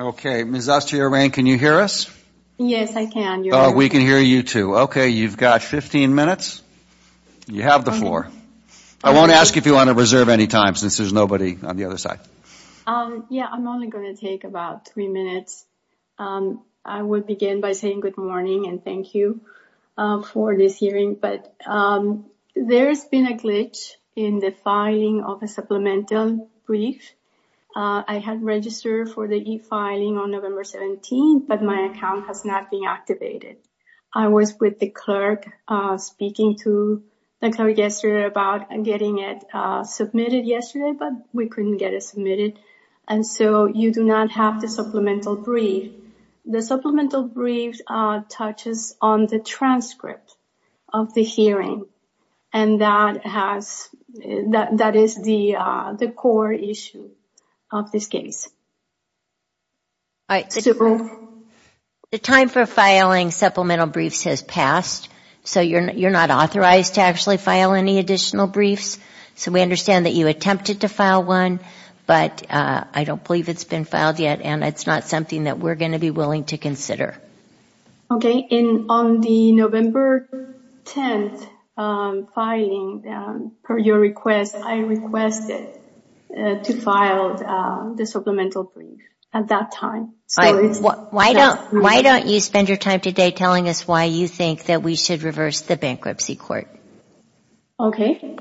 Okay, Ms. Aztiarain, can you hear us? Yes, I can. Oh, we can hear you too. Okay, you've got 15 minutes. You have the floor. I won't ask if you want to reserve any time since there's nobody on the other side. Yeah, I'm only going to take about three minutes. I will begin by saying good morning and thank you for this hearing, but there's been a glitch in the filing of a supplemental brief. I had registered for the e-filing on November 17, but my account has not been activated. I was with the clerk speaking to the clerk yesterday about getting it submitted yesterday, but we couldn't get it submitted, and so you do not have the supplemental brief. The supplemental brief touches on the transcript of the hearing, and that is the core issue of this case. The time for filing supplemental briefs has passed, so you're not authorized to actually file any additional briefs, so we understand that you attempted to file one, but I don't believe it's been filed yet, and it's not something that we're going to be willing to Okay, and on the November 10th filing, per your request, I requested to file the supplemental brief at that time. Why don't you spend your time today telling us why you think that we should reverse the bankruptcy court? Okay,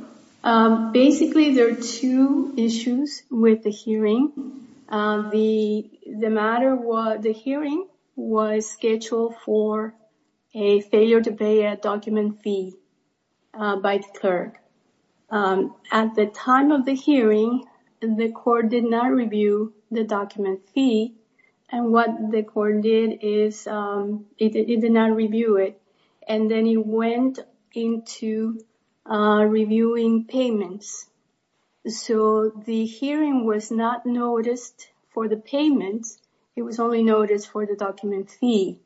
basically there are two issues with the hearing. The matter was the hearing was scheduled for a failure to pay a document fee by the clerk. At the time of the hearing, the court did not review the document fee, and what the court did is it did not review it, and then it went into reviewing payments, so the hearing was not noticed for the payments. It was only noticed for the document fee.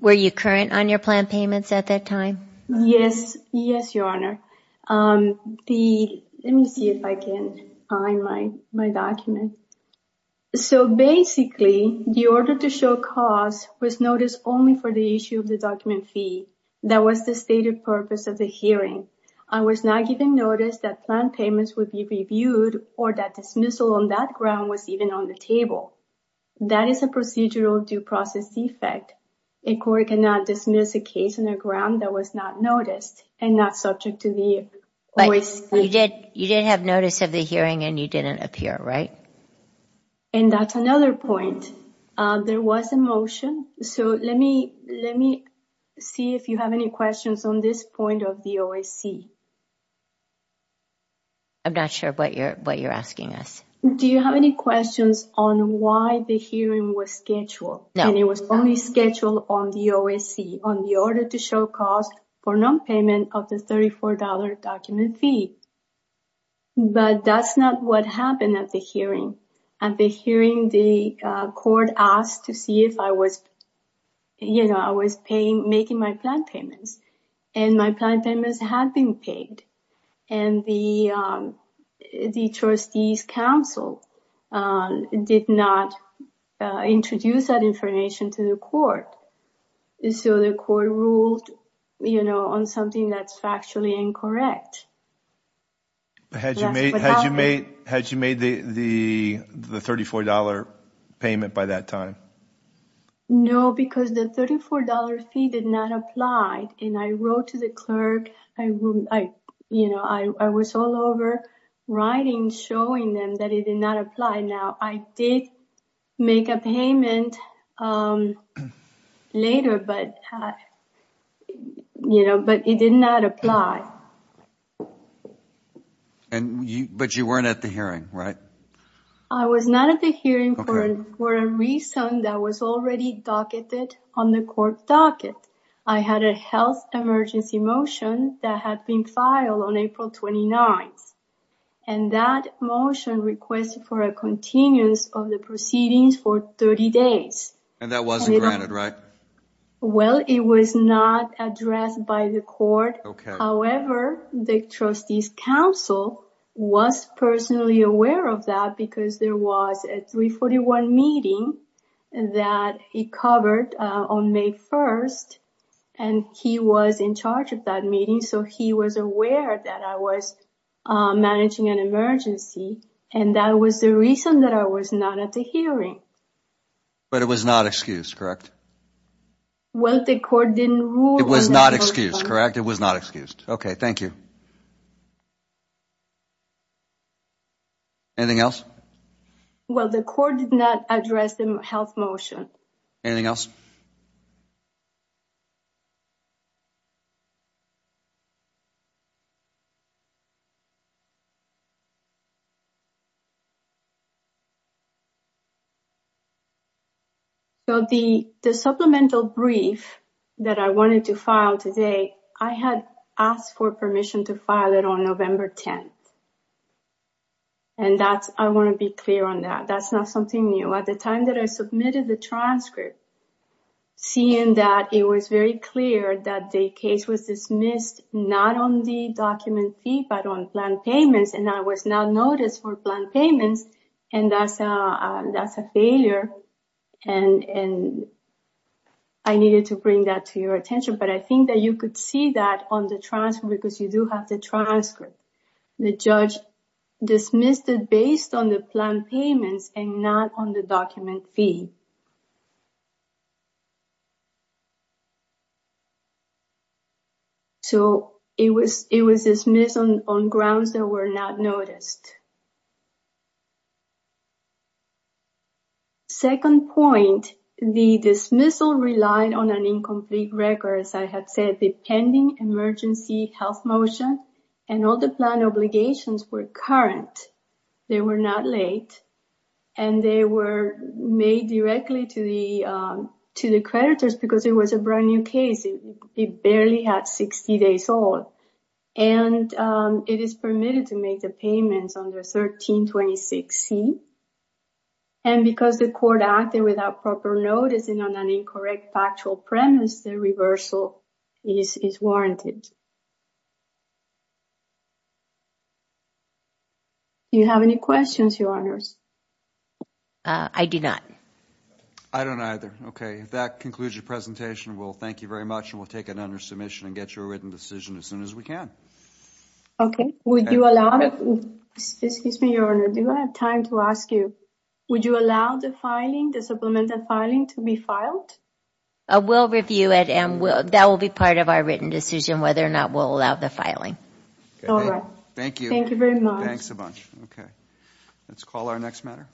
Were you current on your planned payments at that time? Yes, yes, Your Honor. Let me see if I can find my document. So basically, the order to show cause was noticed only for the issue of the document fee. That was the stated purpose of the hearing. I was not given notice that planned payments would be reviewed or that dismissal on that ground was even on the table. That is a procedural due process defect. A court cannot dismiss a case on the ground that was not noticed and not subject to the OAC. But you did have notice of the hearing, and you didn't appear, right? And that's another point. There was a motion, so let me see if you have any questions on this point of the OAC. I'm not sure what you're asking us. Do you have any questions on why the hearing was scheduled, and it was only scheduled on the OAC, on the order to show cause for nonpayment of the $34 document fee? But that's not what happened at the hearing. At the hearing, the court asked to see if I was, you know, I was making my planned payments, and my planned payments had been paid, and the trustee's counsel did not introduce that information to the court. So the court ruled, you know, on something that's factually incorrect. Had you made the $34 payment by that time? No, because the $34 fee did not apply, and I wrote to the clerk. I, you know, I was all over writing, showing them that it did not apply. Now, I did make a payment later, but, you know, but it did not apply. And you, but you weren't at the hearing, right? I was not at the hearing for a reason that was already docketed on the court docket. I had a health emergency motion that had been filed on April 29th, and that motion requested for a continuous of the proceedings for 30 days. And that wasn't granted, right? Well, it was not addressed by the court. However, the trustee's counsel was personally aware of that because there was a 341 meeting that he covered on May 1st, and he was in charge of that meeting. So he was aware that I was managing an emergency, and that was the reason that I was not at the hearing. But it was not excused, correct? Well, the court didn't rule. It was not excused, correct? It was not excused. Okay, thank you. Anything else? Well, the court did not address the health motion. Anything else? Okay, thank you. So the supplemental brief that I wanted to file today, I had asked for permission to file it on November 10th. And I want to be clear on that. That's not something new. At the time that I submitted the transcript, seeing that it was very clear that the case was dismissed not on the document fee, but on planned payments, and I was not noticed for planned payments. And that's a failure, and I needed to bring that to your attention. But I think that you could see that on the transcript because you do have the transcript. The judge dismissed it based on the planned payments and not on the document fee. So it was dismissed on grounds that were not noticed. Second point, the dismissal relied on an incomplete record, as I had said, the pending emergency health motion, and all the planned obligations were current. They were not late. And they were made directly to the creditors because it was a brand new case. It barely had 60 days old. And it is permitted to make the payments under 1326C. And because the court acted without proper notice and on an incorrect factual premise, the reversal is warranted. Do you have any questions, Your Honors? I do not. I don't either. Okay, if that concludes your presentation, we'll thank you very much and we'll take it under submission and get you a written decision as soon as we can. Okay, would you allow, excuse me, Your Honor, do I have time to ask you, would you allow the filing, the supplemental filing, to be filed? We'll review it and that will be part of our written decision whether or not we'll allow the filing. All right. Thank you. Thank you very much. Thanks a bunch. Okay, let's call our next matter.